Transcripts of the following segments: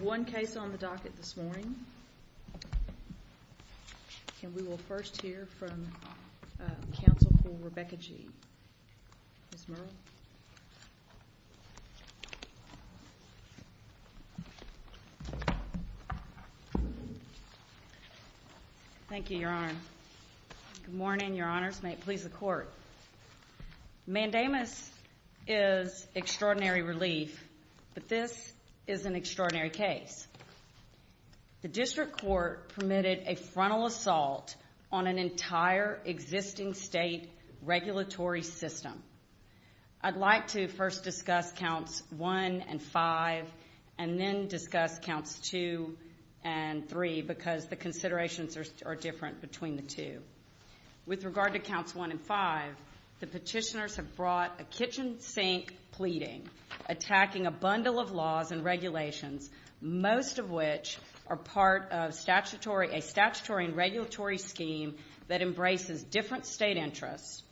We have one case on the docket this morning, and we will first hear from counsel for Rebekah Gee. Ms. Murrell? Thank you, Your Honor. Good morning, Your Honors. May it please the Court. Mandamus is extraordinary relief, but this is an extraordinary case. The district court permitted a frontal assault on an entire existing state regulatory system. I'd like to first discuss counts 1 and 5, and then discuss counts 2 and 3, because the considerations are different between the two. With regard to counts 1 and 5, the petitioners have brought a kitchen sink pleading, attacking a bundle of laws and regulations, most of which are part of a statutory and regulatory scheme that embraces different state interests,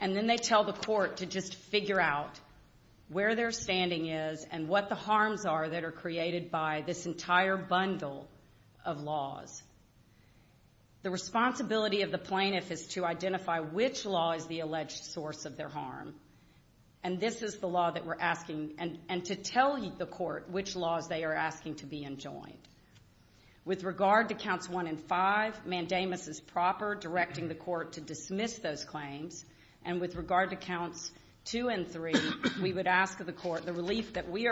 and then they tell the court to just figure out where their standing is and what the harms are that are created by this entire bundle of laws. The responsibility of the plaintiff is to identify which law is the alleged source of their harm, and this is the law that we're asking, and to tell the court which laws they are asking to be enjoined. With regard to counts 1 and 5, Mandamus is proper directing the court to dismiss those claims, and with regard to counts 2 and 3, we would ask the court, the relief that we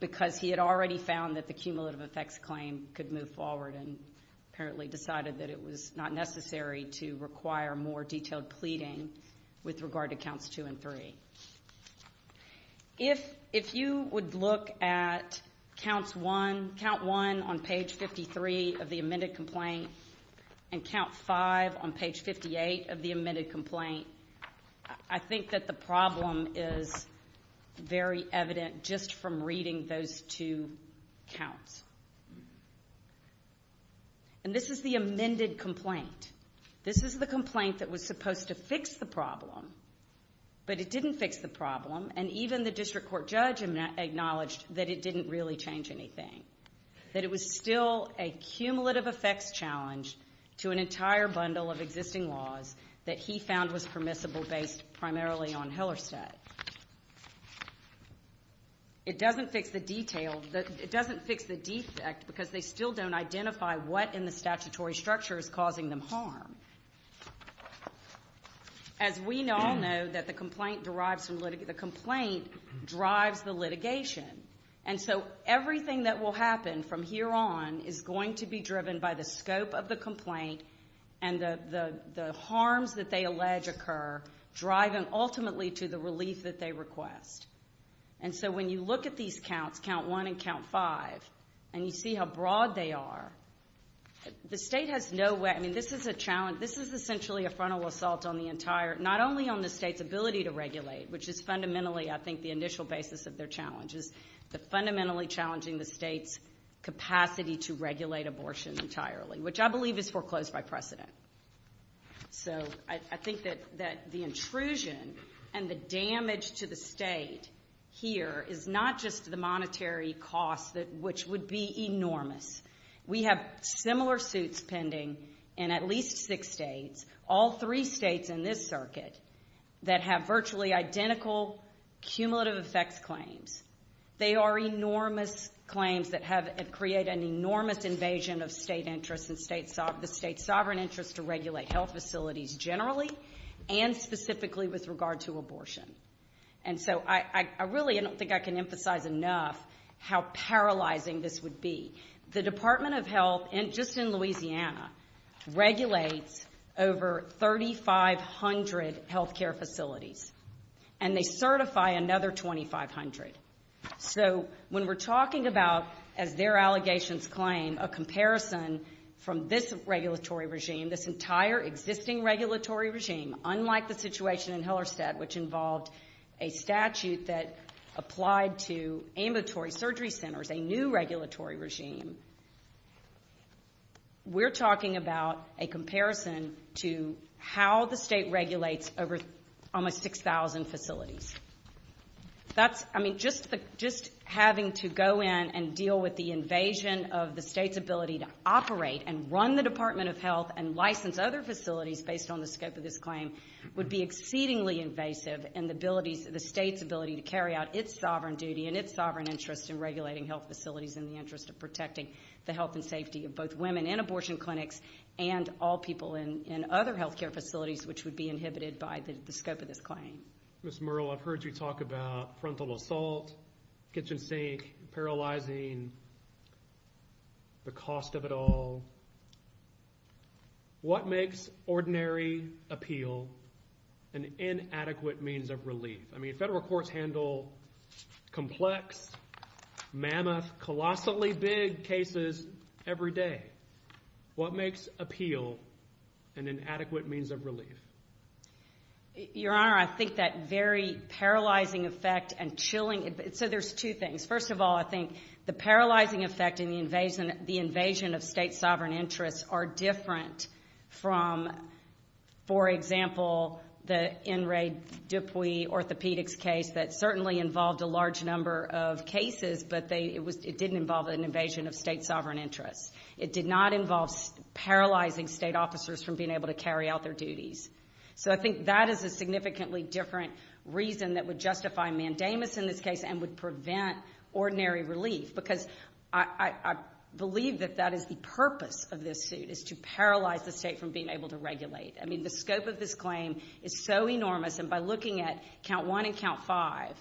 because he had already found that the cumulative effects claim could move forward and apparently decided that it was not necessary to require more detailed pleading with regard to counts 2 and 3. If you would look at counts 1 on page 53 of the amended complaint, and count 5 on page 58 of the amended complaint, I think that the problem is very evident just from reading those two counts. And this is the amended complaint. This is the complaint that was supposed to fix the problem, but it didn't fix the problem, and even the district court judge acknowledged that it didn't really change anything, that it was still a cumulative effects challenge to an entire bundle of existing laws that he found was permissible based primarily on Hillerstadt. It doesn't fix the detail, it doesn't fix the defect because they still don't identify what in the statutory structure is causing them harm. As we all know that the complaint drives the litigation, and so everything that will happen from here on is going to be driven by the scope of the complaint and the harms that they allege occur, driving ultimately to the relief that they request. And so when you look at these counts, count 1 and count 5, and you see how broad they are, the state has no way, I mean this is a challenge, this is essentially a frontal assault on the entire, not only on the state's ability to regulate, which is fundamentally I think the initial basis of their challenges, but fundamentally challenging the state's capacity to regulate abortion entirely, which I believe is foreclosed by precedent. So I think that the intrusion and the damage to the state here is not just the monetary cost, which would be enormous. We have similar suits pending in at least six states, all three states in this circuit, that have virtually identical cumulative effects claims. They are enormous claims that have created an enormous invasion of state interests and the state's sovereign interest to regulate health facilities generally, and specifically with regard to abortion. And so I really don't think I can emphasize enough how paralyzing this would be. The Department of Health, just in Louisiana, regulates over 3,500 healthcare facilities, and they certify another 2,500. So when we're talking about, as their allegations claim, a comparison from this regulatory regime, this entire existing regulatory regime, unlike the situation in Hellerstedt, which involved a statute that applied to ambulatory surgery centers, a new regulatory regime, we're talking about a comparison to how the state regulates over almost 6,000 facilities. That's, I mean, just having to go in and deal with the invasion of the state's ability to operate and run the Department of Health and license other facilities based on the scope of this claim would be exceedingly invasive in the state's ability to carry out its sovereign duty and its sovereign interest in regulating health facilities in the interest of protecting the health and safety of both women in abortion clinics and all people in other healthcare facilities, which would be inhibited by the scope of this claim. Ms. Murrell, I've heard you talk about frontal assault, kitchen sink, paralyzing, the cost of it all. What makes ordinary appeal an inadequate means of relief? I mean, federal courts handle complex, mammoth, colossally big cases every day. What makes appeal an inadequate means of relief? Your Honor, I think that very paralyzing effect and chilling, so there's two things. First of all, I think the paralyzing effect and the invasion of state sovereign interests are different from, for example, the N. Ray Dupuy orthopedics case that certainly involved a large number of cases, but it didn't involve an invasion of state sovereign interests. It did not involve paralyzing state officers from being able to carry out their duties. So I think that is a significantly different reason that would justify mandamus in this case and would prevent ordinary relief, because I believe that that is the purpose of this suit, is to paralyze the state from being able to regulate. I mean, the scope of this claim is so enormous, and by looking at count one and count five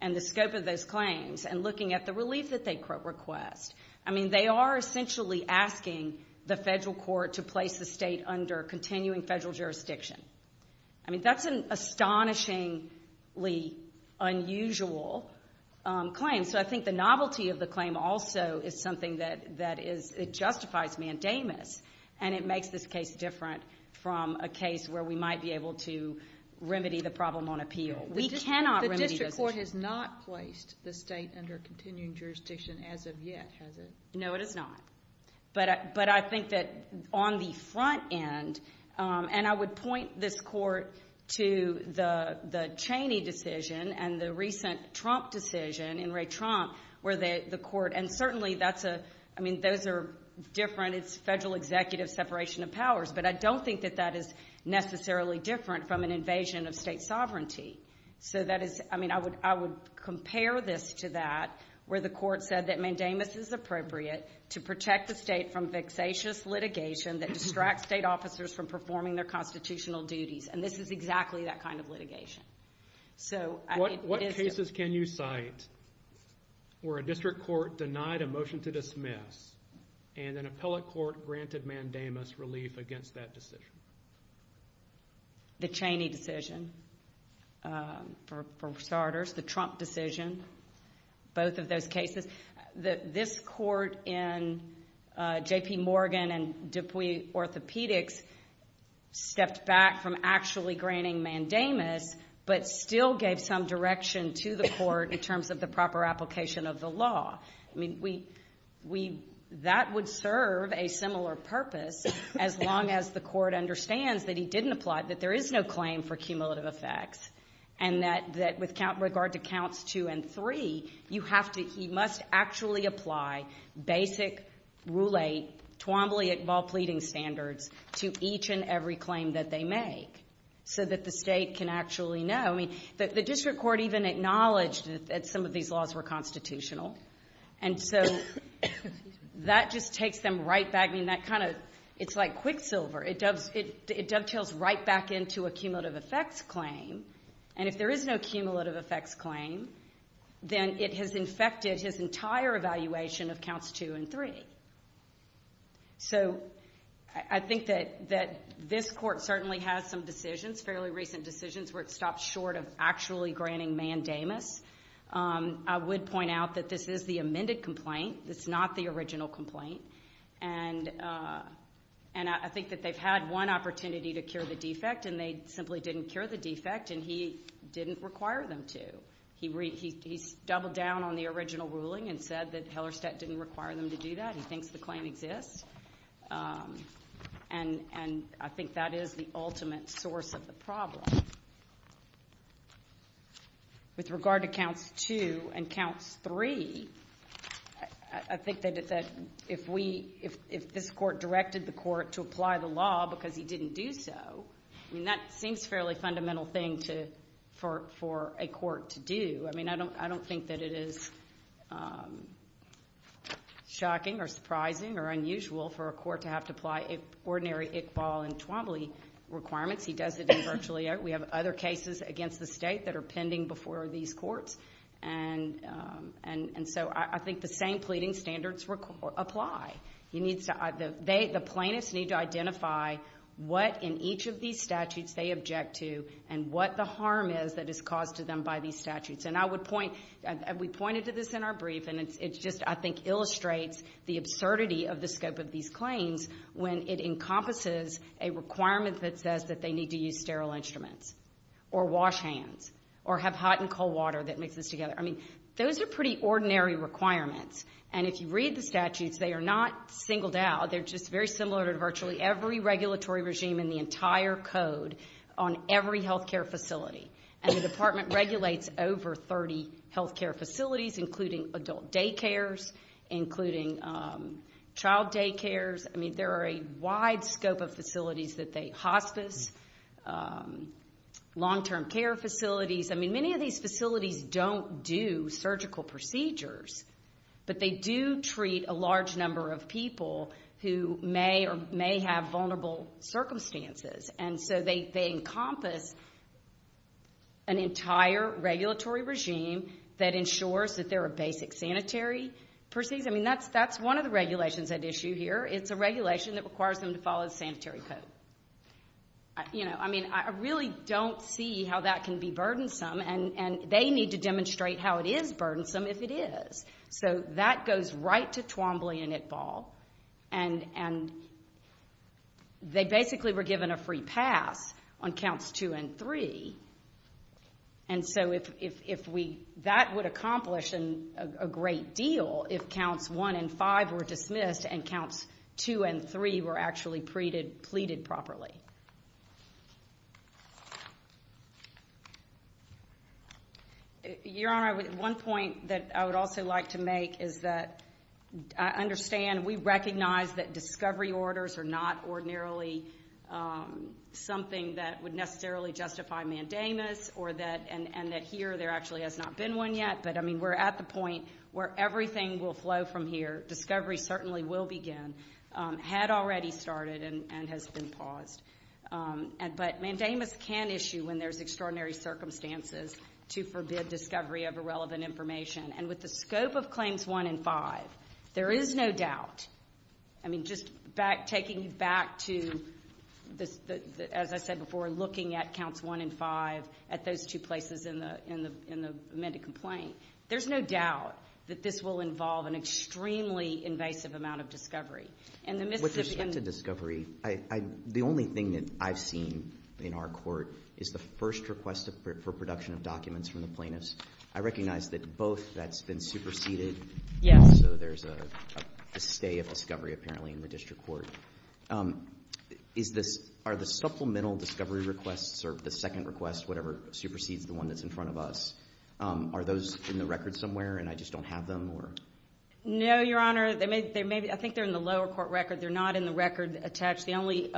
and the scope of those claims and looking at the relief that they request, I mean, they are essentially asking the federal court to place the state under continuing federal jurisdiction. I mean, that's an astonishingly unusual claim, so I think the novelty of the claim also is something that justifies mandamus, and it makes this case different from a case where we might be able to remedy the problem on appeal. We cannot remedy those issues. The district court has not placed the state under continuing jurisdiction as of yet, has not. But I think that on the front end, and I would point this court to the Cheney decision and the recent Trump decision in Ray Trump, where the court, and certainly that's a, I mean, those are different. It's federal executive separation of powers, but I don't think that that is necessarily different from an invasion of state sovereignty. So that is, I mean, I would compare this to that, where the court said that mandamus is appropriate to protect the state from vexatious litigation that distracts state officers from performing their constitutional duties, and this is exactly that kind of litigation. So it is... What cases can you cite where a district court denied a motion to dismiss and an appellate court granted mandamus relief against that decision? The Cheney decision, for starters. The Trump decision, both of those cases. This court in J.P. Morgan and DuPuy Orthopedics stepped back from actually granting mandamus, but still gave some direction to the court in terms of the proper application of the law. I mean, we... That would serve a similar purpose as long as the court understands that he didn't apply, that there is no claim for cumulative effects, and that with regard to counts two and three, you have to... He must actually apply basic, roulette, Twombly ball pleading standards to each and every claim that they make so that the state can actually know. I mean, the district court even acknowledged that some of these laws were constitutional, and so that just takes them right back. I mean, that kind of... It's like Quicksilver. It dovetails right back into a cumulative effects claim, and if there is no cumulative effects claim, then it has infected his entire evaluation of counts two and three. So I think that this court certainly has some decisions, fairly recent decisions, where it stopped short of actually granting mandamus. I would point out that this is the amended complaint. It's not the original complaint, and I think that they've had one opportunity to cure the He's doubled down on the original ruling and said that Hellerstedt didn't require them to do that. He thinks the claim exists, and I think that is the ultimate source of the problem. With regard to counts two and counts three, I think that if this court directed the court to apply the law because he didn't do so, I mean, that seems a fairly fundamental thing for a court to do. I mean, I don't think that it is shocking or surprising or unusual for a court to have to apply ordinary Iqbal and Twombly requirements. He does it virtually. We have other cases against the state that are pending before these courts, and so I think the same pleading standards apply. The plaintiffs need to identify what in each of these statutes they object to and what the harm is that is caused to them by these statutes, and we pointed to this in our brief, and it just, I think, illustrates the absurdity of the scope of these claims when it encompasses a requirement that says that they need to use sterile instruments or wash hands or have hot and cold water that mixes together. I mean, those are pretty ordinary requirements, and if you read the statutes, they are not singled out. They are just very similar to virtually every regulatory regime in the entire code on every health care facility, and the department regulates over 30 health care facilities, including adult daycares, including child daycares. I mean, there are a wide scope of facilities that they hospice, long-term care facilities. I mean, many of these facilities don't do surgical procedures, but they do treat a large number of people who may or may have vulnerable circumstances, and so they encompass an entire regulatory regime that ensures that there are basic sanitary proceeds. I mean, that's one of the regulations at issue here. It's a regulation that requires them to follow the sanitary code. You know, I mean, I really don't see how that can be burdensome, and they need to demonstrate how it is burdensome if it is. So that goes right to Twombly and ITBAL, and they basically were given a free pass on counts two and three, and so if we, that would accomplish a great deal if counts one and five were dismissed and counts two and three were actually pleaded properly. Your Honor, one point that I would also like to make is that I understand we recognize that discovery orders are not ordinarily something that would necessarily justify mandamus, and that here there actually has not been one yet, but I mean, we're at the point where everything will flow from here. Discovery certainly will begin, had already started and has been paused, but mandamus can issue when there's extraordinary circumstances to forbid discovery of irrelevant information, and with the scope of claims one and five, there is no doubt, I mean, just taking back to, as I said before, looking at counts one and five at those two places in the amended complaint, there's no doubt that this will involve an extremely invasive amount of discovery, and the Mississippi. With respect to discovery, the only thing that I've seen in our court is the first request for production of documents from the plaintiffs. I recognize that both that's been superseded, so there's a stay of discovery, apparently, in the district court. Is this, are the supplemental discovery requests or the second request, whatever, supersedes the one that's in front of us, are those in the record somewhere, and I just don't have them? No, Your Honor, I think they're in the lower court record, they're not in the record attached. The only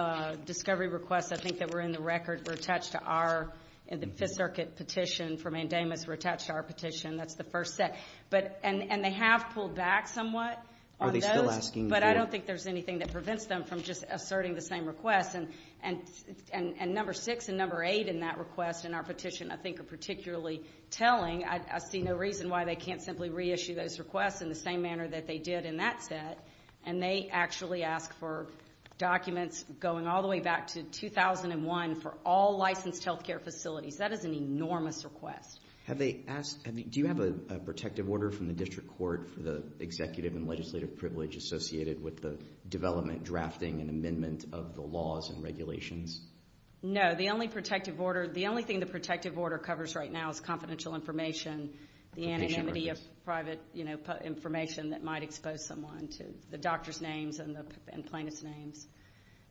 discovery requests I think that were in the record were attached to our, the Fifth Circuit petition for mandamus were attached to our petition, that's the first set, and they have pulled back somewhat on those, but I don't think there's anything that prevents them from just asserting the same request, and number six and number eight in that request in our petition I think are particularly telling, I see no reason why they can't simply reissue those requests in the same manner that they did in that set, and they actually ask for documents going all the way back to 2001 for all licensed health care facilities. That is an enormous request. Have they asked, do you have a protective order from the district court for the executive and legislative privilege associated with the development, drafting, and amendment of the laws and regulations? No, the only protective order, the only thing the protective order covers right now is confidential information, the anonymity of private information that might expose someone to the doctor's names and plaintiff's names,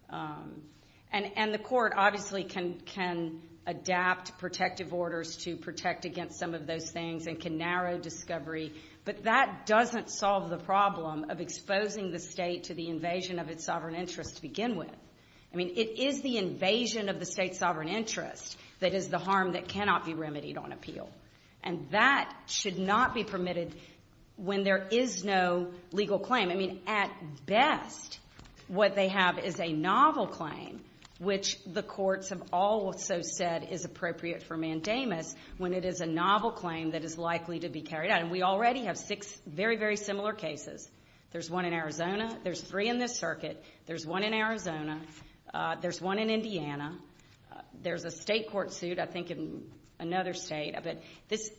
and the court obviously can adapt protective orders to protect against some of those things and can narrow discovery, but that doesn't solve the problem of exposing the state to the invasion of its sovereign interest to begin with. I mean, it is the invasion of the state's sovereign interest that is the harm that cannot be remedied on appeal, and that should not be permitted when there is no legal claim. I mean, at best, what they have is a novel claim, which the courts have also said is appropriate for mandamus when it is a novel claim that is likely to be carried out, and we already have six very, very similar cases. There's one in Arizona. There's three in this circuit. There's one in Arizona. There's one in Indiana. There's a state court suit, I think, in another state, but this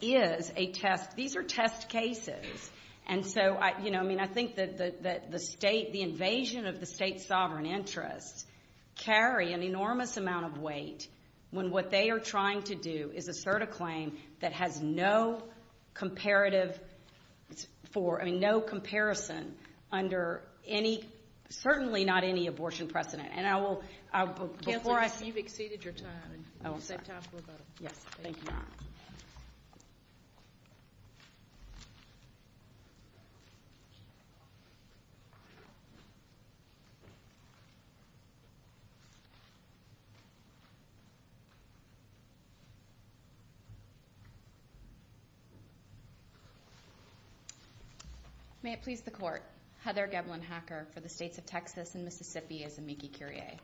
is a test. These are test cases, and so, you know, I mean, I think that the state, the invasion of the state's sovereign interest carry an enormous amount of weight when what they are trying to do is assert a claim that has no comparative for, I mean, no comparison under any, certainly not any abortion precedent, and I will, before I... You've exceeded your time. Oh, I'm sorry. You said time for a vote. Yes. May it please the court, Heather Gebelin-Hacker for the states of Texas and Mississippi as amici curiae.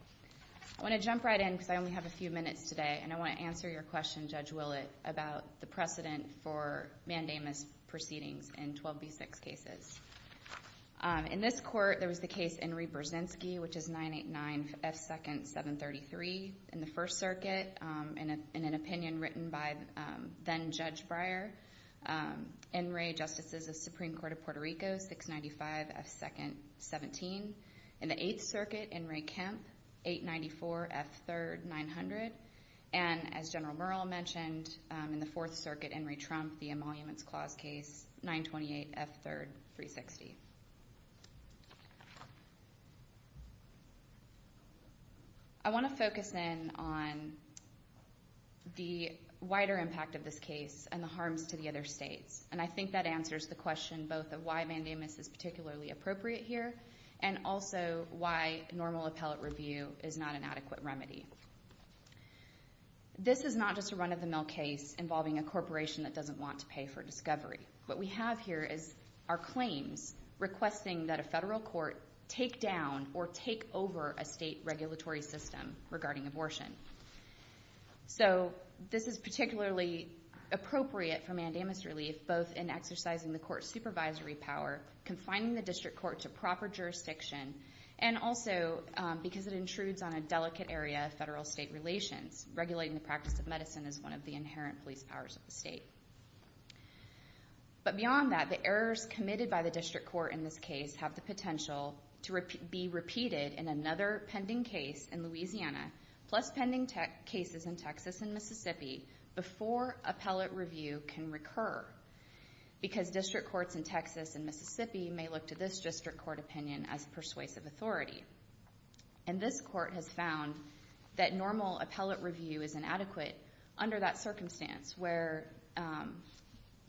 I want to jump right in because I only have a few minutes today, and I want to answer your question, Judge Willett, about the precedent for mandamus proceedings in 12B6 cases. In this court, there was the case Enri Burzynski, which is 989F2nd733 in the First Circuit, in an opinion written by then-Judge Breyer, Enri, Justices of the Supreme Court of Puerto Rico, 695F2nd17. In the Eighth Circuit, Enri Kemp, 894F3rd900, and as General Merle mentioned, in the Fourth Circuit, Enri Trump, the Emoluments Clause case, 928F3rd360. I want to focus in on the wider impact of this case and the harms to the other states, and I think that answers the question both of why mandamus is particularly appropriate here and also why normal appellate review is not an adequate remedy. This is not just a run-of-the-mill case involving a corporation that doesn't want to pay for discovery. What we have here is our claims requesting that a federal court take down or take over a state regulatory system regarding abortion. So this is particularly appropriate for mandamus relief, both in exercising the court's supervisory power, confining the district court to proper jurisdiction, and also because it intrudes on a delicate area of federal-state relations, regulating the practice of medicine as one of the inherent police powers of the state. But beyond that, the errors committed by the district court in this case have the potential to be repeated in another pending case in Louisiana, plus pending cases in Texas and Mississippi, before appellate review can recur, because district courts in Texas and Mississippi may look to this district court opinion as persuasive authority. And this court has found that normal appellate review is inadequate under that circumstance where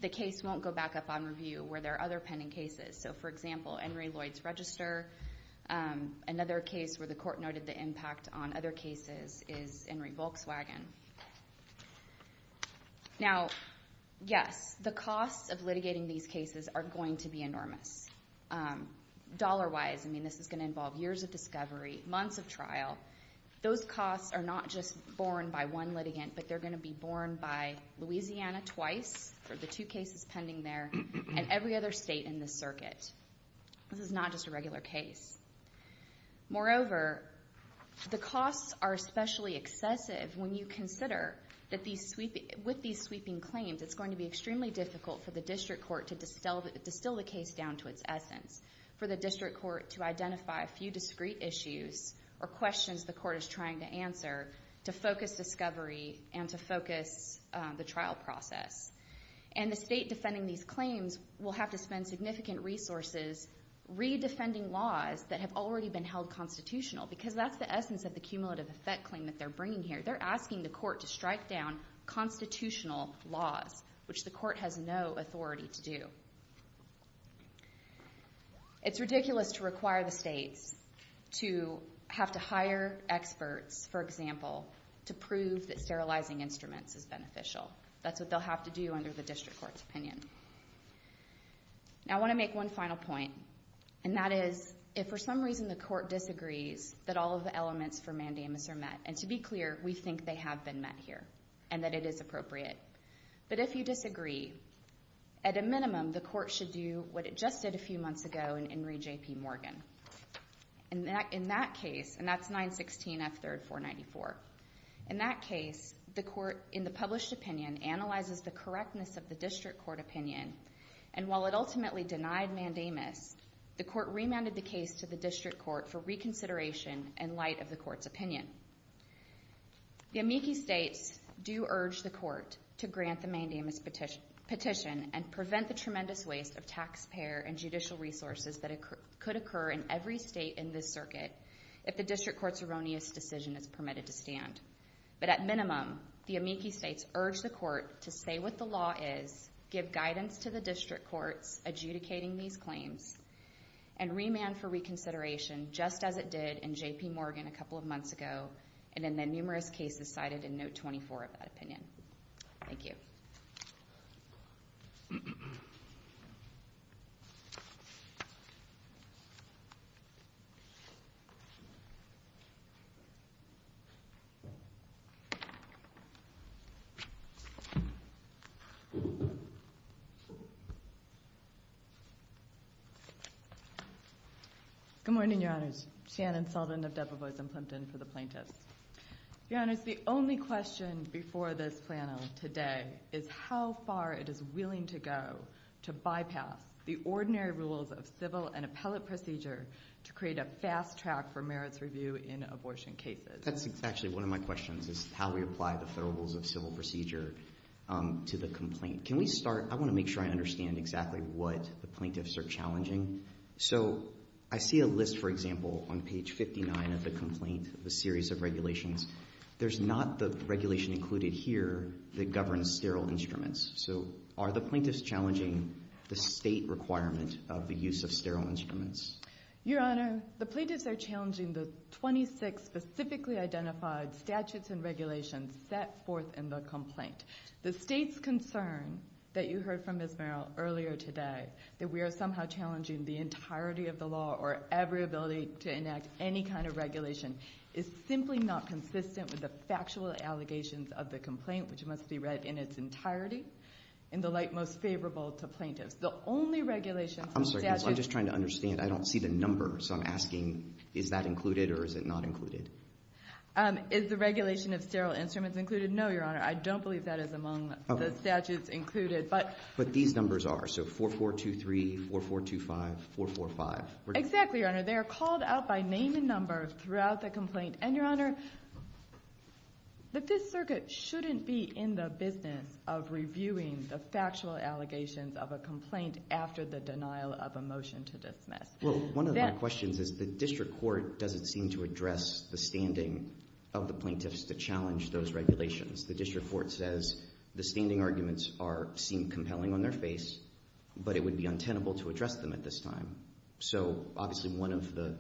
the case won't go back up on review where there are other pending cases. So for example, Henry Lloyd's Register, another case where the court noted the impact on other cases is Henry Volkswagen. Now, yes, the costs of litigating these cases are going to be enormous. Dollar-wise, I mean, this is going to involve years of discovery, months of trial. Those costs are not just borne by one litigant, but they're going to be borne by Louisiana twice for the two cases pending there, and every other state in this circuit. This is not just a regular case. Moreover, the costs are especially excessive when you consider that with these sweeping claims, it's going to be extremely difficult for the district court to distill the case down to its essence, for the district court to identify a few discrete issues or questions the court is trying to answer to focus discovery and to focus the trial process. And the state defending these claims will have to spend significant resources re-defending laws that have already been held constitutional, because that's the essence of the cumulative effect claim that they're bringing here. They're asking the court to strike down constitutional laws, which the court has no authority to do. It's ridiculous to require the states to have to hire experts, for example, to prove that sterilizing instruments is beneficial. That's what they'll have to do under the district court's opinion. Now I want to make one final point, and that is, if for some reason the court disagrees that all of the elements for mandamus are met, and to be clear, we think they have been met here, and that it is appropriate, but if you disagree, at a minimum, the court should do what it just did a few months ago in Re J.P. Morgan. In that case, and that's 916 F. 3rd 494, in that case, the court in the published opinion analyzes the correctness of the district court opinion, and while it ultimately denied mandamus, the court remanded the case to the district court for reconsideration in light of the court's opinion. The amici states do urge the court to grant the mandamus petition and prevent the tremendous waste of taxpayer and judicial resources that could occur in every state in this circuit if the district court's erroneous decision is permitted to stand, but at minimum, the amici states urge the court to say what the law is, give guidance to the district courts adjudicating these claims, and remand for reconsideration, just as it did in J.P. Morgan a couple of months ago, and in the numerous cases cited in note 24 of that opinion. Thank you. Good morning, your honors. Shannon Sullivan of Debevoise and Plimpton for the plaintiffs. Your honors, the only question before this panel today is how far it is willing to go to bypass the ordinary rules of civil and appellate procedure to create a fast track for merits review in abortion cases. That's exactly one of my questions, is how we apply the federal rules of civil procedure to the complaint. Can we start, I want to make sure I understand exactly what the plaintiffs are challenging. So I see a list, for example, on page 59 of the complaint, the series of regulations. There's not the regulation included here that governs sterile instruments. So are the plaintiffs challenging the state requirement of the use of sterile instruments? Your honor, the plaintiffs are challenging the 26 specifically identified statutes and regulations set forth in the complaint. The state's concern that you heard from Ms. Merrill earlier today, that we are somehow challenging the entirety of the law or every ability to enact any kind of regulation is simply not consistent with the factual allegations of the complaint, which must be read in its entirety in the light most favorable to plaintiffs. The only regulations and statutes... I'm sorry, I'm just trying to understand. I don't see the number, so I'm asking, is that included or is it not included? Is the regulation of sterile instruments included? No, your honor. I don't believe that is among the statutes included, but... 4423, 4425, 445. Exactly, your honor. They are called out by name and number throughout the complaint. And your honor, the Fifth Circuit shouldn't be in the business of reviewing the factual allegations of a complaint after the denial of a motion to dismiss. Well, one of my questions is the district court doesn't seem to address the standing of the plaintiffs to challenge those regulations. The district court says the standing arguments seem compelling on their face, but it would be untenable to address them at this time. So obviously one of the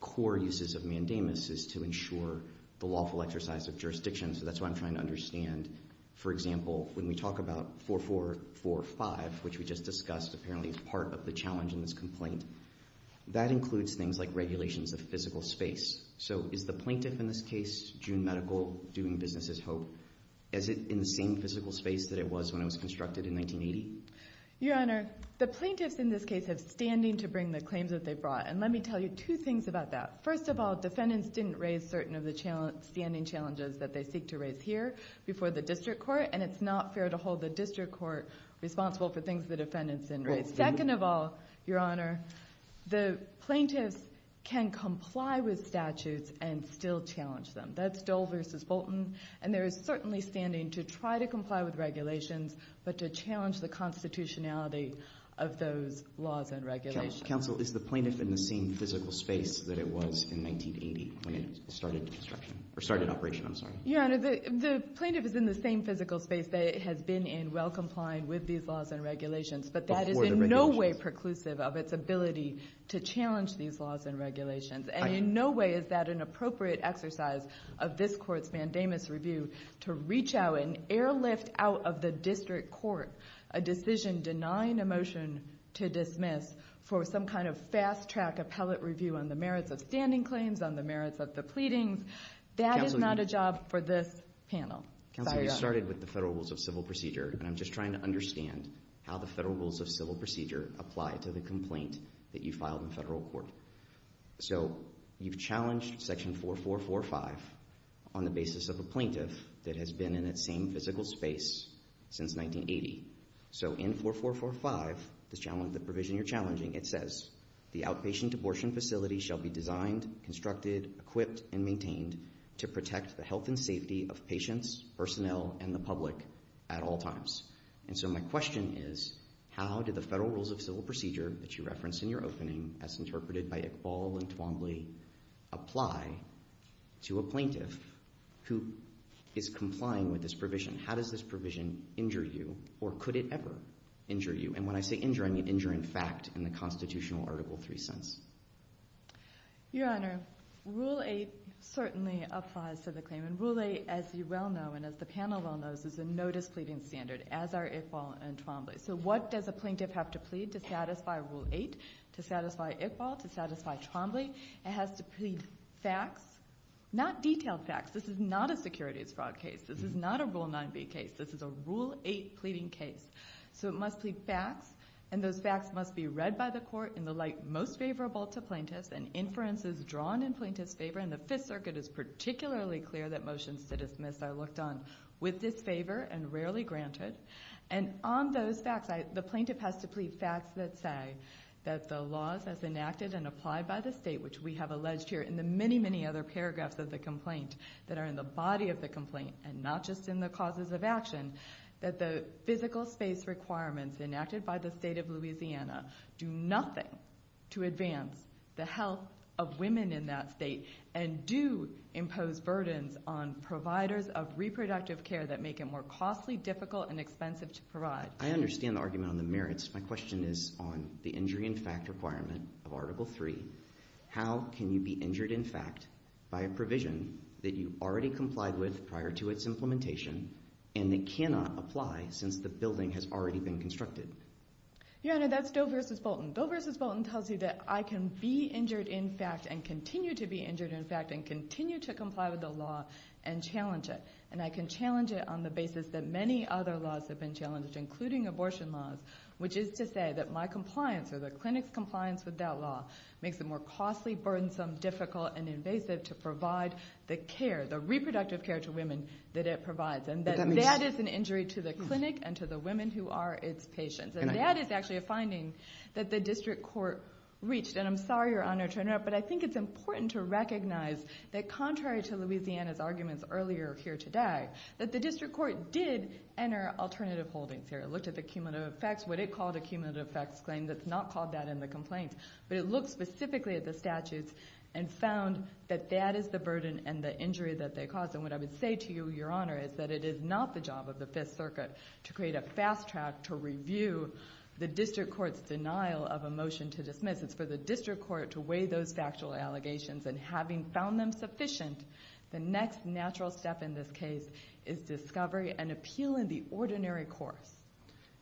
core uses of mandamus is to ensure the lawful exercise of jurisdiction, so that's what I'm trying to understand. For example, when we talk about 4445, which we just discussed, apparently is part of the challenge in this complaint, that includes things like regulations of physical space. So is the plaintiff in this case, June Medical, doing business as hoped? Is it in the same physical space that it was when it was constructed in 1980? Your honor, the plaintiffs in this case have standing to bring the claims that they brought, and let me tell you two things about that. First of all, defendants didn't raise certain of the standing challenges that they seek to raise here before the district court, and it's not fair to hold the district court responsible for things the defendants didn't raise. Second of all, your honor, the plaintiffs can comply with statutes and still challenge them. That's Dole v. Bolton, and there is certainly standing to try to comply with regulations, but to challenge the constitutionality of those laws and regulations. Counsel, is the plaintiff in the same physical space that it was in 1980 when it started construction? Or started operation, I'm sorry. Your honor, the plaintiff is in the same physical space that it has been in while complying with these laws and regulations, but that is in no way preclusive of its ability to challenge these laws and regulations, and in no way is that an appropriate exercise of this court's mandamus review to reach out and airlift out of the district court a decision denying a motion to dismiss for some kind of fast-track appellate review on the merits of standing claims, on the merits of the pleadings. That is not a job for this panel. Counsel, you started with the federal rules of civil procedure, and I'm just trying to understand how the federal rules of civil procedure apply to the complaint that you filed in federal court. So you've challenged section 4445 on the basis of a plaintiff that has been in its same physical space since 1980. So in 4445, the provision you're challenging, it says, the outpatient abortion facility shall be designed, constructed, equipped, and maintained to protect the health and safety of patients, personnel, and the public at all times. And so my question is, how do the federal rules of civil procedure that you referenced in your opening, as interpreted by Iqbal and Twombly, apply to a plaintiff who is complying with this provision? How does this provision injure you, or could it ever injure you? And when I say injure, I mean injure in fact in the constitutional Article 3 sense. Your Honor, Rule 8 certainly applies to the claim, and Rule 8, as you well know, and as the panel well knows, is a notice pleading standard, as are Iqbal and Twombly. So what does a plaintiff have to plead to satisfy Rule 8, to satisfy Iqbal, to satisfy Twombly? It has to plead facts, not detailed facts. This is not a securities fraud case. This is not a Rule 9b case. This is a Rule 8 pleading case. So it must plead facts, and those facts must be read by the court in the light most favorable to plaintiffs, and inferences drawn in plaintiffs' favor. And the Fifth Circuit is particularly clear that motions to dismiss are looked on with disfavor and rarely granted. And on those facts, the plaintiff has to plead facts that say that the laws as enacted and applied by the state, which we have alleged here in the many, many other paragraphs of the complaint that are in the body of the complaint and not just in the causes of action, that the physical space requirements enacted by the state of Louisiana do nothing to advance the health of women in that state and do impose burdens on providers of reproductive care that make it more costly, difficult, and expensive to provide. I understand the argument on the merits. My question is on the injury in fact requirement of Article 3. How can you be injured in fact by a provision that you already complied with prior to its implementation and that cannot apply since the building has already been constructed? Your Honor, that's Doe v. Bolton. Doe v. Bolton tells you that I can be injured in fact and continue to be injured in fact and continue to comply with the law and challenge it. And I can challenge it on the basis that many other laws have been challenged, including abortion laws, which is to say that my compliance or the clinic's compliance with that law makes it more costly, burdensome, difficult, and invasive to provide the care, the reproductive care to women that it provides. And that is an injury to the clinic and to the women who are its patients. And that is actually a finding that the district court reached. And I'm sorry, Your Honor, to interrupt, but I think it's important to recognize that contrary to Louisiana's arguments earlier here today, that the district court did enter alternative holdings here. It looked at the cumulative effects, what it called a cumulative effects claim that's not called that in the complaint. But it looked specifically at the statutes and found that that is the burden and the injury that they caused. And what I would say to you, Your Honor, is that it is not the job of the Fifth Circuit to create a fast track to review the district court's denial of a motion to dismiss. It's for the district court to weigh those factual allegations. And having found them sufficient, the next natural step in this case is discovery and appeal in the ordinary course.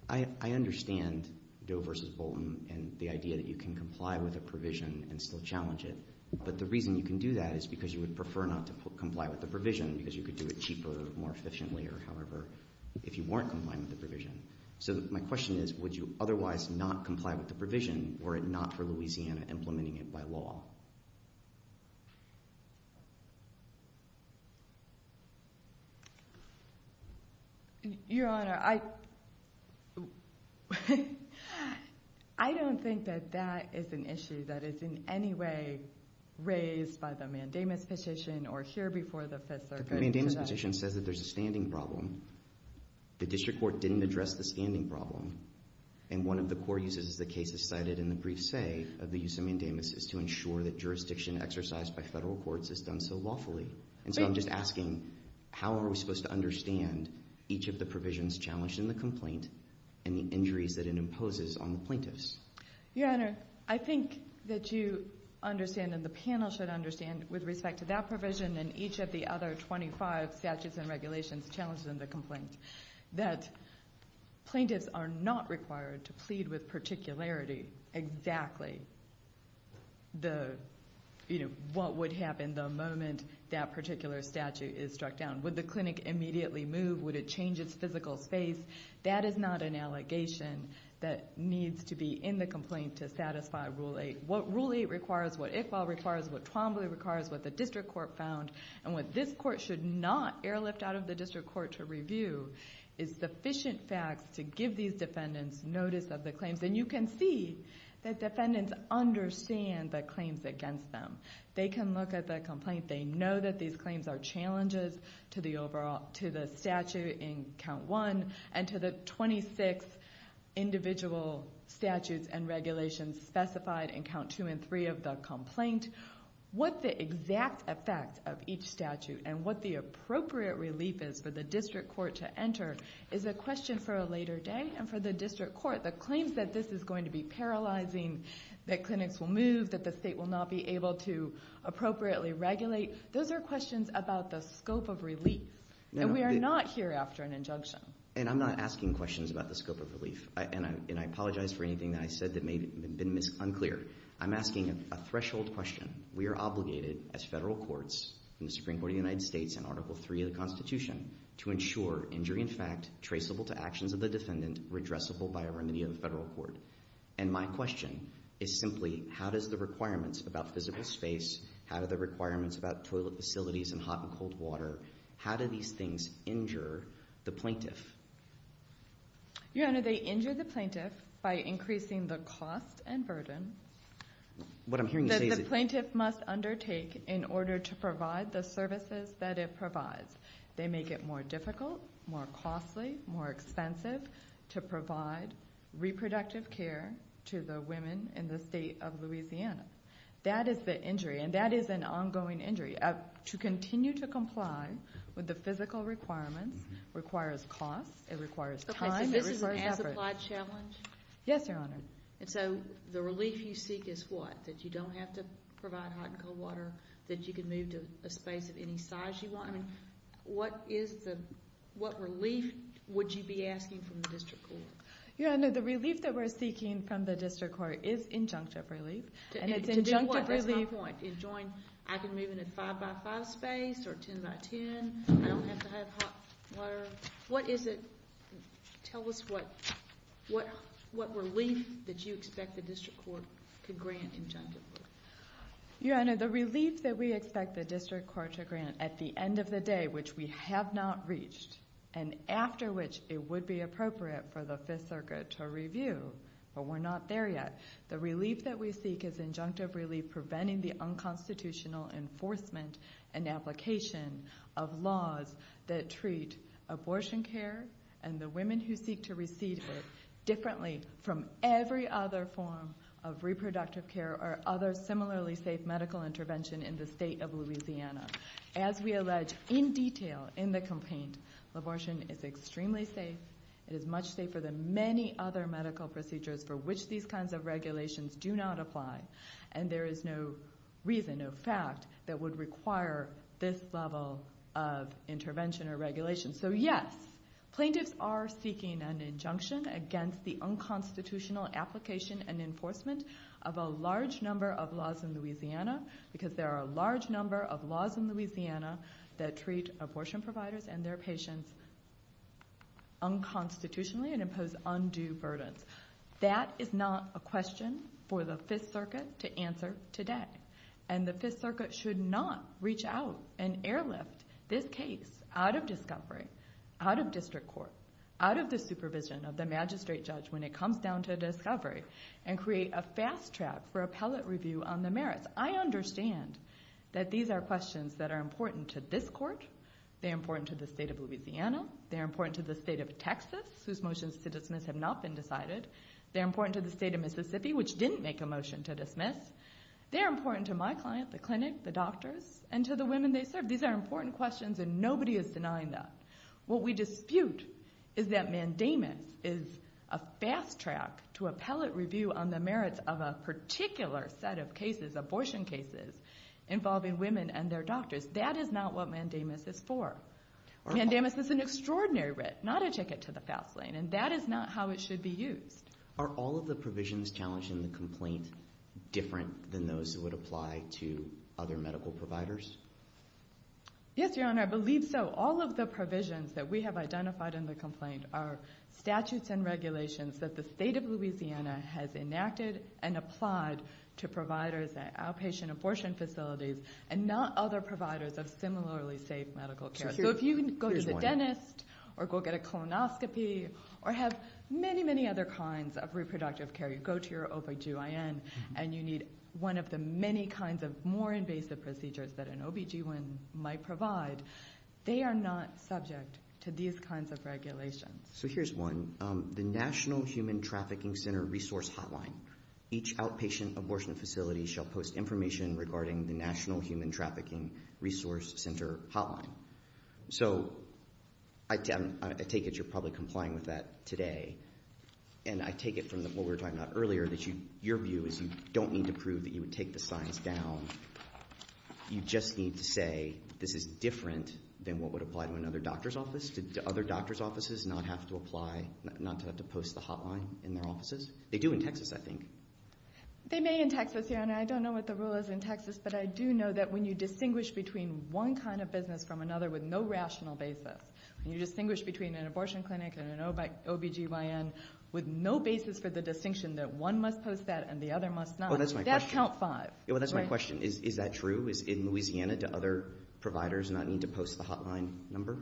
I understand Doe v. Bolton and the idea that you can comply with a provision and still challenge it. But the reason you can do that is because you would prefer not to comply with the provision because you could do it cheaper, more efficiently, or however, if you weren't complying with the provision. So my question is, would you otherwise not comply with the provision were it not for Louisiana implementing it by law? Your Honor, I... I don't think that that is an issue that is in any way raised by the mandamus petition or here before the Fifth Circuit. The mandamus petition says that there's a standing problem. The district court didn't address the standing problem. And one of the core uses of the cases cited in the brief say of the use of mandamus is to ensure that jurisdiction exercised by federal courts is done so lawfully. And so I'm just asking, how are we supposed to understand each of the provisions challenged in the complaint and the injuries that it imposes on the plaintiffs? Your Honor, I think that you understand and the panel should understand with respect to that provision and each of the other 25 statutes and regulations challenged in the complaint that plaintiffs are not required to plead with particularity exactly the... you know, what would happen the moment that particular statute is struck down. Would the clinic immediately move? Would it change its physical space? That is not an allegation that needs to be in the complaint to satisfy Rule 8. What Rule 8 requires, what Iqbal requires, what Twombly requires, what the district court found, and what this court should not airlift out of the district court to review is sufficient facts to give these defendants notice of the claims and you can see that defendants understand the claims against them. They can look at the complaint. They know that these claims are challenges to the overall... to the statute in Count 1 and to the 26 individual statutes and regulations specified in Count 2 and 3 of the complaint. What the exact effect of each statute and what the appropriate relief is for the district court to enter is a question for a later day and for the district court that claims that this is going to be paralyzing, that clinics will move, that the state will not be able to appropriately regulate. Those are questions about the scope of relief and we are not here after an injunction. And I'm not asking questions about the scope of relief and I apologize for anything that I said that may have been unclear. I'm asking a threshold question. We are obligated as federal courts in the Supreme Court of the United States and Article 3 of the Constitution to ensure injury in fact traceable to actions of the defendant redressable by a remedy of the federal court. And my question is simply how does the requirements about physical space, how do the requirements about toilet facilities and hot and cold water, how do these things injure the plaintiff? Your Honor, they injure the plaintiff by increasing the cost and burden that the plaintiff must undertake in order to provide the services that it provides. They make it more difficult, more costly, more expensive to provide reproductive care to the women in the state of Louisiana. That is the injury and that is an ongoing injury. To continue to comply with the physical requirements requires cost, it requires time, it requires effort. Okay, so this is an as-applied challenge? Yes, Your Honor. And so the relief you seek is what? That you don't have to provide hot and cold water? That you can move into a space of any size you want? I mean, what is the, what relief would you be asking from the district court? Your Honor, the relief that we're seeking from the district court is injunctive relief. And it's injunctive relief To do what? That's my point. I can move into a five-by-five space or a ten-by-ten. I don't have to have hot water. What is it? Tell us what, what relief did you expect the district court could grant injunctive relief? Your Honor, the relief that we expect the district court to grant at the end of the day, which we have not reached, and after which it would be appropriate for the Fifth Circuit to review, but we're not there yet. The relief that we seek is injunctive relief preventing the unconstitutional enforcement and application of laws that treat abortion care and the women who seek to receive it differently from every other form of reproductive care or other similarly safe medical intervention in the state of Louisiana. As we allege in detail in the campaign, abortion is extremely safe, it is much safer than many other medical procedures for which these kinds of regulations do not apply and there is no reason, no fact that would require this level of intervention or regulation. So yes, plaintiffs are seeking an injunction against the unconstitutional application and enforcement of a large number of laws in Louisiana because there are a large number of laws in Louisiana that treat abortion providers and their patients unconstitutionally and impose undue burdens. That is not a question for the 5th Circuit to answer today and the 5th Circuit should not reach out and airlift this case out of discovery, out of district court, out of the supervision of the magistrate judge when it comes down to discovery and create a fast track for appellate review on the merits. I understand that these are questions that are important to this court, they're important to the state of Louisiana, they're important to the state of Texas whose motions to dismiss have not been decided, they're important to the state of Mississippi which didn't make a motion to dismiss, they're important to my client, the clinic, the doctors and to the women they serve. These are important questions and nobody is denying that. What we dispute is that mandamus is a fast track to appellate review on the merits of a particular set of cases, abortion cases involving women and their doctors. That is not what mandamus is for. Mandamus is an extraordinary writ, not a ticket to the fast lane and that is not how it should be used. Are all of the provisions challenged in the complaint different than those that would apply to other medical providers? Yes, your honor, I believe so. All of the provisions that we have identified in the complaint are statutes and regulations that the state of Louisiana has enacted and applied to providers at outpatient abortion facilities and not other providers of similarly safe medical care. So if you go to the dentist or go get a colonoscopy or have many, many other kinds of reproductive care, you go to your OBGYN and you need one of the many kinds of more invasive procedures that an OBGYN might provide, they are not subject to these kinds of regulations. So here's one. The National Human Trafficking Center Resource Hotline. Each outpatient abortion facility shall post information regarding the National Human Trafficking Resource Center Hotline. So I take it you're probably complying with that today and I take it from what we were talking about earlier that your view is you don't need to prove that you would take the signs down. You just need to say this is different than what would apply to another doctor's office. Do other doctor's offices not have to apply, not to have to post the hotline in their offices? They do in Texas, I think. They may in Texas, Your Honor. I don't know what the rule is in Texas, but I do know that when you distinguish between one kind of business from another with no rational basis, when you distinguish between an abortion clinic and an OBGYN with no basis for the distinction that one must post that and the other must not, that's count five. Well, that's my question. Is that true? Is in Louisiana do other providers not need to post the hotline number?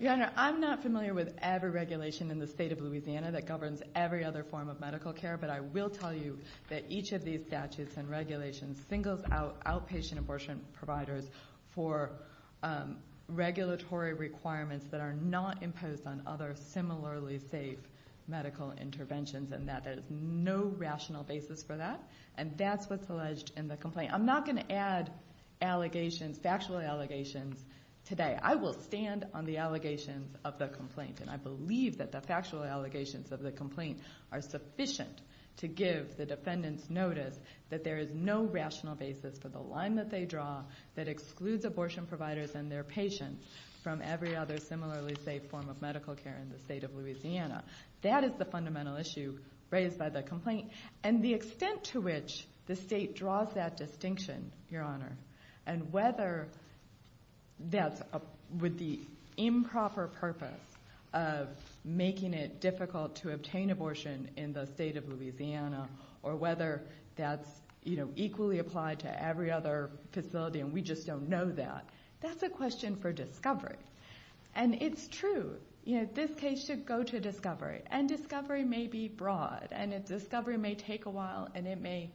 Your Honor, I'm not familiar with every regulation in the state of Louisiana that governs every other form of medical care, but I will tell you that each of these statutes and regulations singles out outpatient abortion providers for regulatory requirements that are not imposed on other similarly safe medical interventions and that there is no rational basis for that and that's what's alleged in the complaint. I'm not going to add allegations, factual allegations today. I will stand on the allegations of the complaint and I believe that the state of Louisiana that excludes abortion providers and their patients from every other similarly safe form of medical care in the state of Louisiana that is the fundamental issue raised by the complaint and the extent to which the state not able to address this issue properly and we just don't know that. That's a question for discovery and it's true. This case should go to discovery and discovery may be broad and discovery may take a while and it may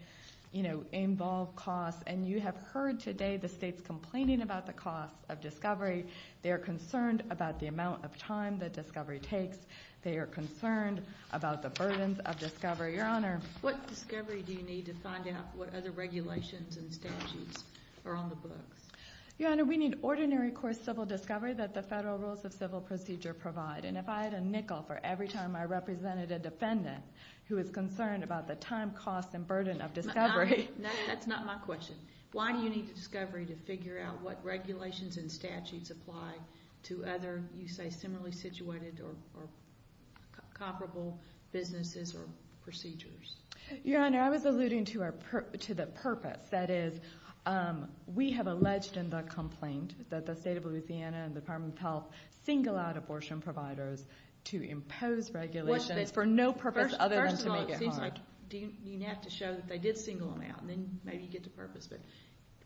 involve costs and you have heard today the state complaining about the cost of discovery they are concerned about the amount of time that discovery takes they are concerned about the time cost and burden of discovery. Why do you need discovery to figure out what regulations and statutes apply to other businesses or procedures? I was alluding to the purpose that is we have alleged in the complaint that the state of Louisiana and the Department of Health single out abortion providers to impose regulations for no purpose other than to make it hard.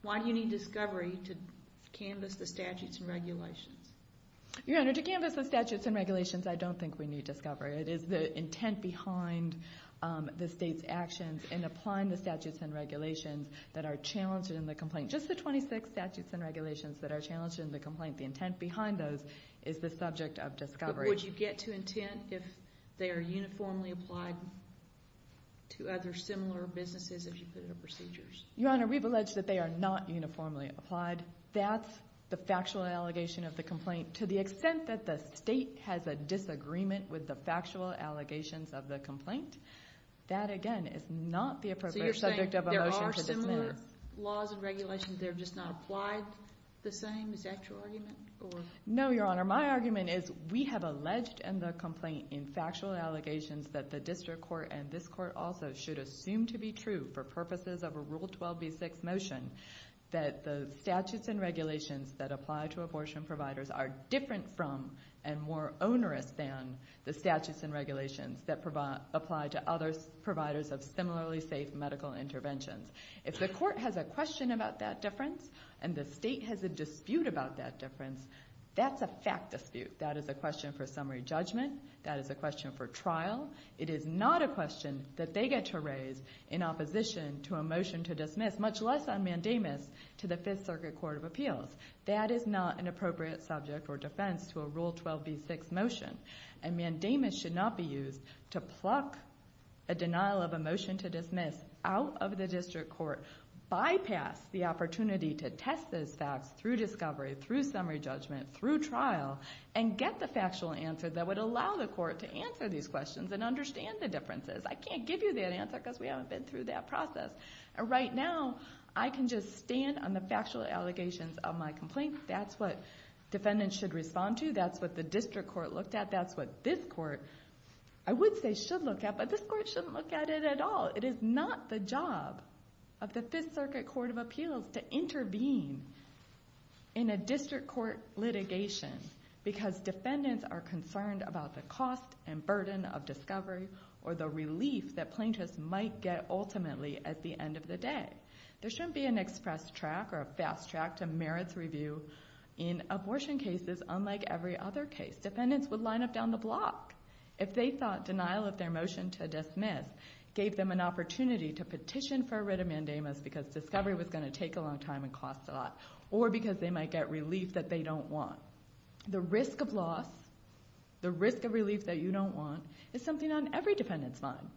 Why do you need discovery to canvass the statutes and regulations that are challenged in the complaint? The intent behind those is the subject of discovery. Would you get to intent if they are uniformly applied to other similar businesses if you put it in procedures? Your Honor, we've alleged that they are not uniformly applied. That's the factual allegation of the complaint. To the extent that the state has a disagreement with the factual allegations of the statutes and regulations that apply to abortion providers are different from and more onerous than the statutes and regulations that apply to other providers of similarly safe medical interventions. If the court has a question about that difference and the state has a dispute about that difference that's a fact dispute. That is a question for summary judgment. That is a question for judgment. I can't give you that answer because we haven't been through that process. Right now I can just stand on the factual allegations of my complaint. That's what the district court looked at. That's what this court I would say should look at but this court shouldn't look at it at all. It is not the job of the Fifth Circuit Court of Appeals to intervene in a district court litigation because defendants are concerned about the cost and burden of discovery or the relief that plaintiffs might get ultimately at the end of the day. There is a risk of loss or because they might get relief they don't want. The risk of loss is something on every defendant's mind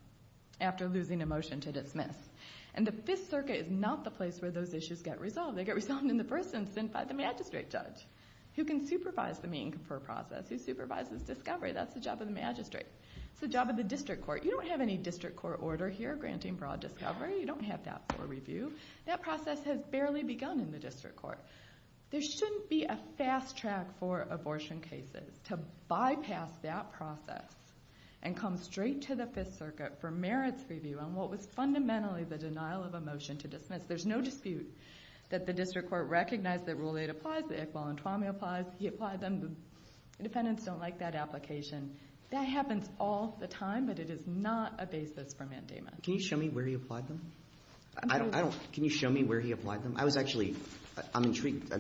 after losing a motion to dismiss their district court. There shouldn't be a fast track for abortion cases to bypass that process and come straight to the Fifth Circuit for merits review on what was fundamentally the denial of a motion to dismiss. There's no that the district court recognized that Rule 8 applies, that he applied them. The defendants don't like that application. That happens all the time, but it is not a basis for mandamus. Can you show me where he applied them? I'm intrigued.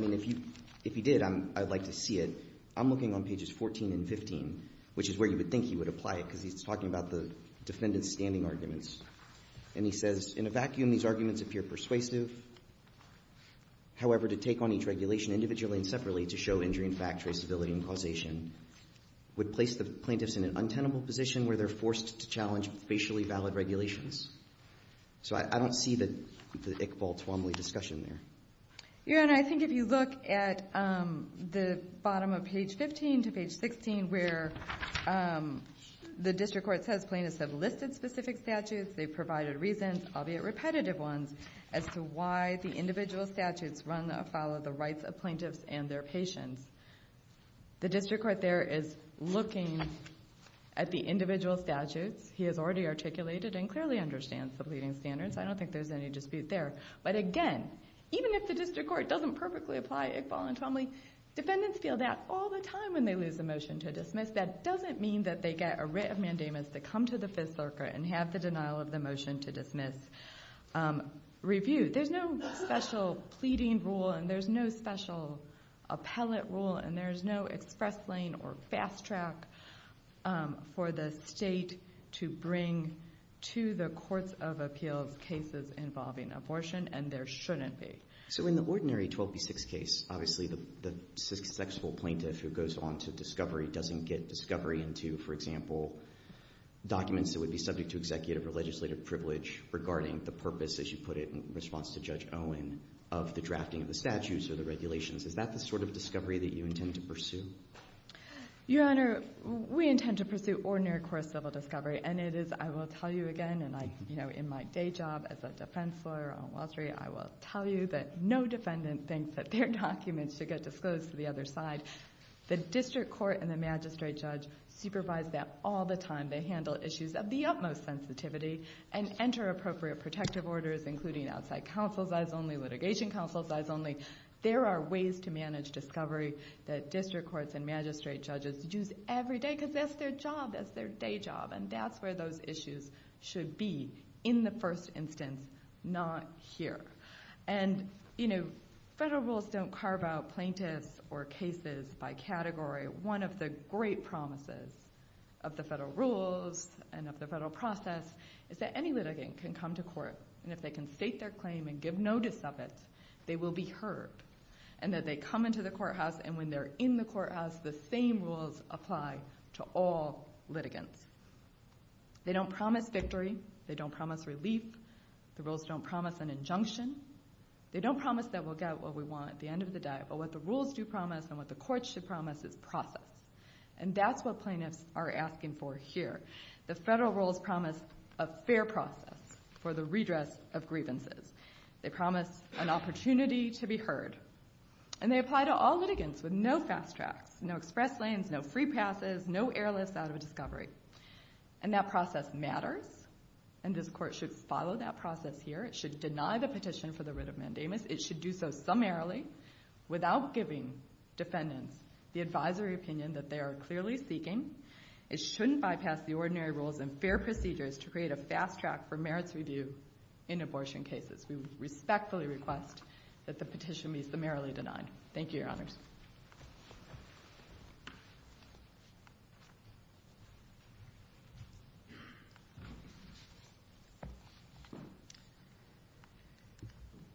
If he did, I'd like to see it. I'm looking on pages 14 and 15 which is where you would think he would apply it because he's talking about the defendant's standing arguments. And he says, in a vacuum these arguments appear persuasive. However, to take on each regulation individually and separately to show injury and fact traceability and causation would place the plaintiffs in an untenable position where they're forced to challenge facially valid regulations. I don't see the discussion there. I think if you look at the bottom of page 15 to page 16 where the district court is looking at the individual statutes. He has already articulated and clearly understands the pleading standards. I don't think there's any dispute there. But again, even if the district court doesn't have the capacity to explain or fast track for the state to bring to the courts of appeals cases involving abortion and there shouldn't be. So in the ordinary 12B6 case, obviously the successful plaintiff who goes on to discovery doesn't get discovery into, for example, documents that would be subject to executive or legislative privilege regarding the purpose of the drafting of the statutes or the constitution. Because as a lawyer, I can tell you that no defendant thinks their documents should get disclosed to the other side. The district court and magistrate judge supervise that all the time. They handle issues of the utmost sensitivity and enter appropriate protective orders. There are ways to manage discovery that district courts and magistrate judges use every day. That's where those issues should be in the first instance, not here. Federal rules don't carve out plaintiffs or cases by category. One of the great promises of the federal rules and of the federal process is that any litigant can come to court and if they can state their claim and give notice of it, they will be heard. And that they come into the court and of it. The rules don't promise an injunction. They don't promise that we'll get what we want at the end of the day. But what the rules do promise and what the court should promise is process. And that's what plaintiffs are asking for here. The federal rules promise a fair process for the redress of grievances. They promise an opportunity to be heard. And they apply to all litigants with no fast tracks, no express lanes, no free passes, no airlifts out of a discovery. And that process matters and this court should follow that process here. It should deny the petition for the writ of mandamus. It should do so summarily without giving defendants the advisory opinion that they are clearly seeking. It shouldn't bypass the ordinary rules and fair procedures to create a fast track for cases. We respectfully request that the petition be summarily denied. Thank you, Your Honors.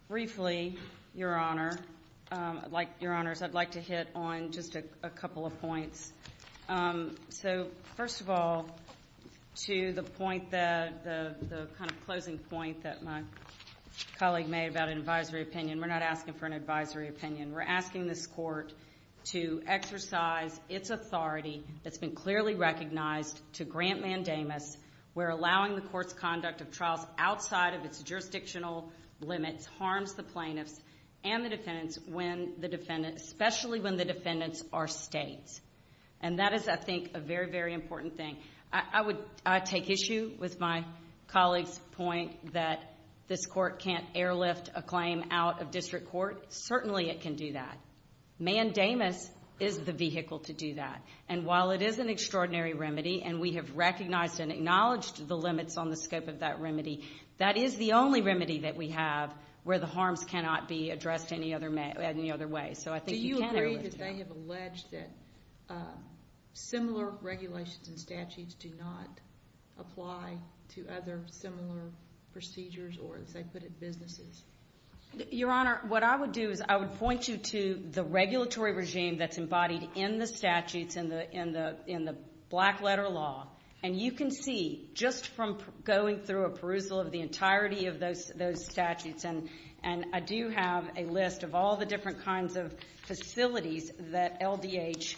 Briefly, Your Honor, I would like to hit on just a couple of points. So, first of all, to the point, the kind of closing point that my colleague made about an advisory opinion, we're not asking for an advisory opinion. We're asking this court to exercise its authority that's been clearly recognized to grant mandamus where allowing the court's conduct of trials outside of its jurisdictional limits harms the plaintiffs and the defendants, especially when the defendants are states. And that is, I think, a very, very important thing. I take issue with my colleague's point that this court can't airlift a claim out of district court. Certainly, it can do that. Mandamus is the vehicle to do that. And while it is an extraordinary remedy, and we have recognized and acknowledged the limits on the scope of that remedy, that is the only remedy that we have where the harms cannot be addressed any other way. So I think you can airlift that. Do you agree that they have alleged that similar regulations and statutes do not apply to other similar procedures, or as they put it, businesses? Your Honor, what I would do is I would point you to the regulatory regime that's embodied in the statutes, in the black-letter law. And you can see, just from going through a perusal of the entirety of those statutes, and I do have a list of all the different kinds of facilities that LDH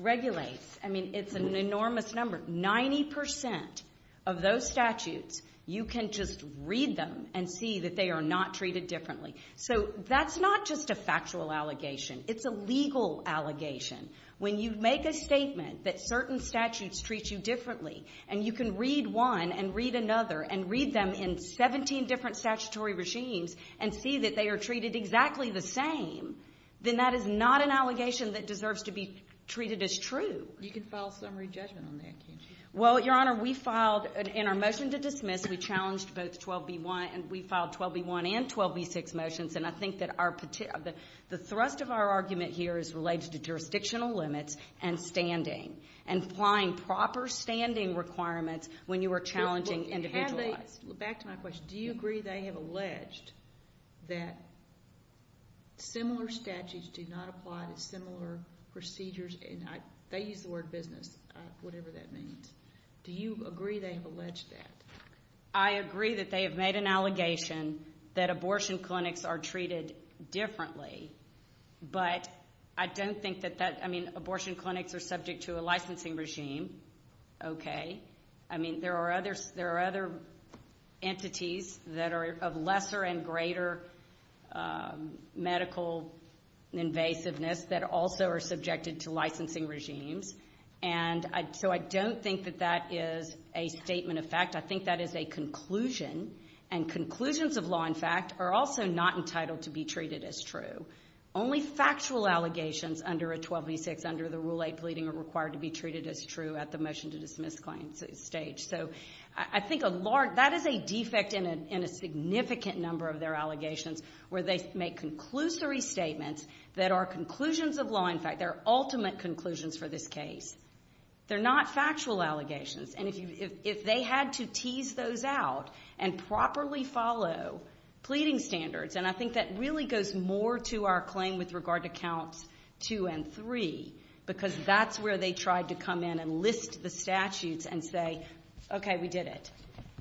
regulates. I mean, it's an enormous number. Ninety percent of those statutes, you can just read them and see that they are not treated differently. So that's not just a factual allegation. It's a legal allegation. When you make a claim and see that they are treated exactly the same, then that is not an allegation that deserves to be treated as true. You can file a summary judgment on that, can't you? Well, Your Honor, we filed, in our motion to dismiss, we challenged both 12B1 and 12B6 motions, and I think most of our argument here is related to jurisdictional limits and standing, and applying proper standing requirements when you are challenging individual rights. Back to my question, do you agree they have alleged that similar statutes do not apply to similar procedures? They use the word business, whatever that means. Do you agree that is not true? But I don't think that, I mean, abortion clinics are subject to a licensing regime, okay, I mean, there are other entities that are of lesser and greater medical invasiveness that also are subjected to licensing regimes, and so I don't think that that is a statement of fact. I think that is a conclusion, and conclusions of law and fact are also not entitled to be treated as true. Only factual allegations under 1286, under the Rule 8 pleading, are required to be treated as true at the motion to dismiss claim stage. So I think that is a defect in a significant number of their allegations where they make conclusory statements that are conclusions of law and fact, they're ultimate conclusions for this case. They're not factual allegations, and if they had to tease those out and properly follow pleading standards, and I think that really goes more to our claim with regard to counts 2 and 3, because that's where they tried to come in and list the statutes and say, okay, we did it.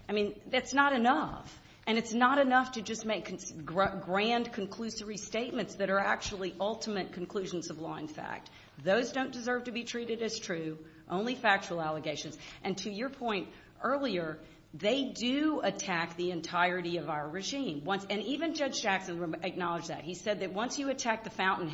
I mean, that's not enough, and it's not enough to just make grand conclusory statements that are actually ultimate conclusions of law and fact, I think that's where they tried to come in and list the statutes and say, okay, it. I mean, that's not enough, and it's not enough to just make grand conclusory statements that are actually ultimate conclusions of law and fact, and I think that that's statements that are actually ultimate conclusions of law and fact, I think that's where they tried to come in and list the statutes and say, okay, that's not and it's not enough to just are actually tried to come in and list the statutes and say, okay, that's not enough, and it's not enough to just make grand conclusory that's not enough, and it's not enough to just list the statutes and say, okay, that's not enough, and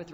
it's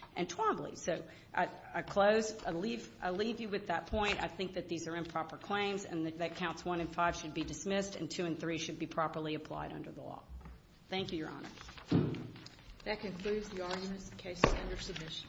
not enough to just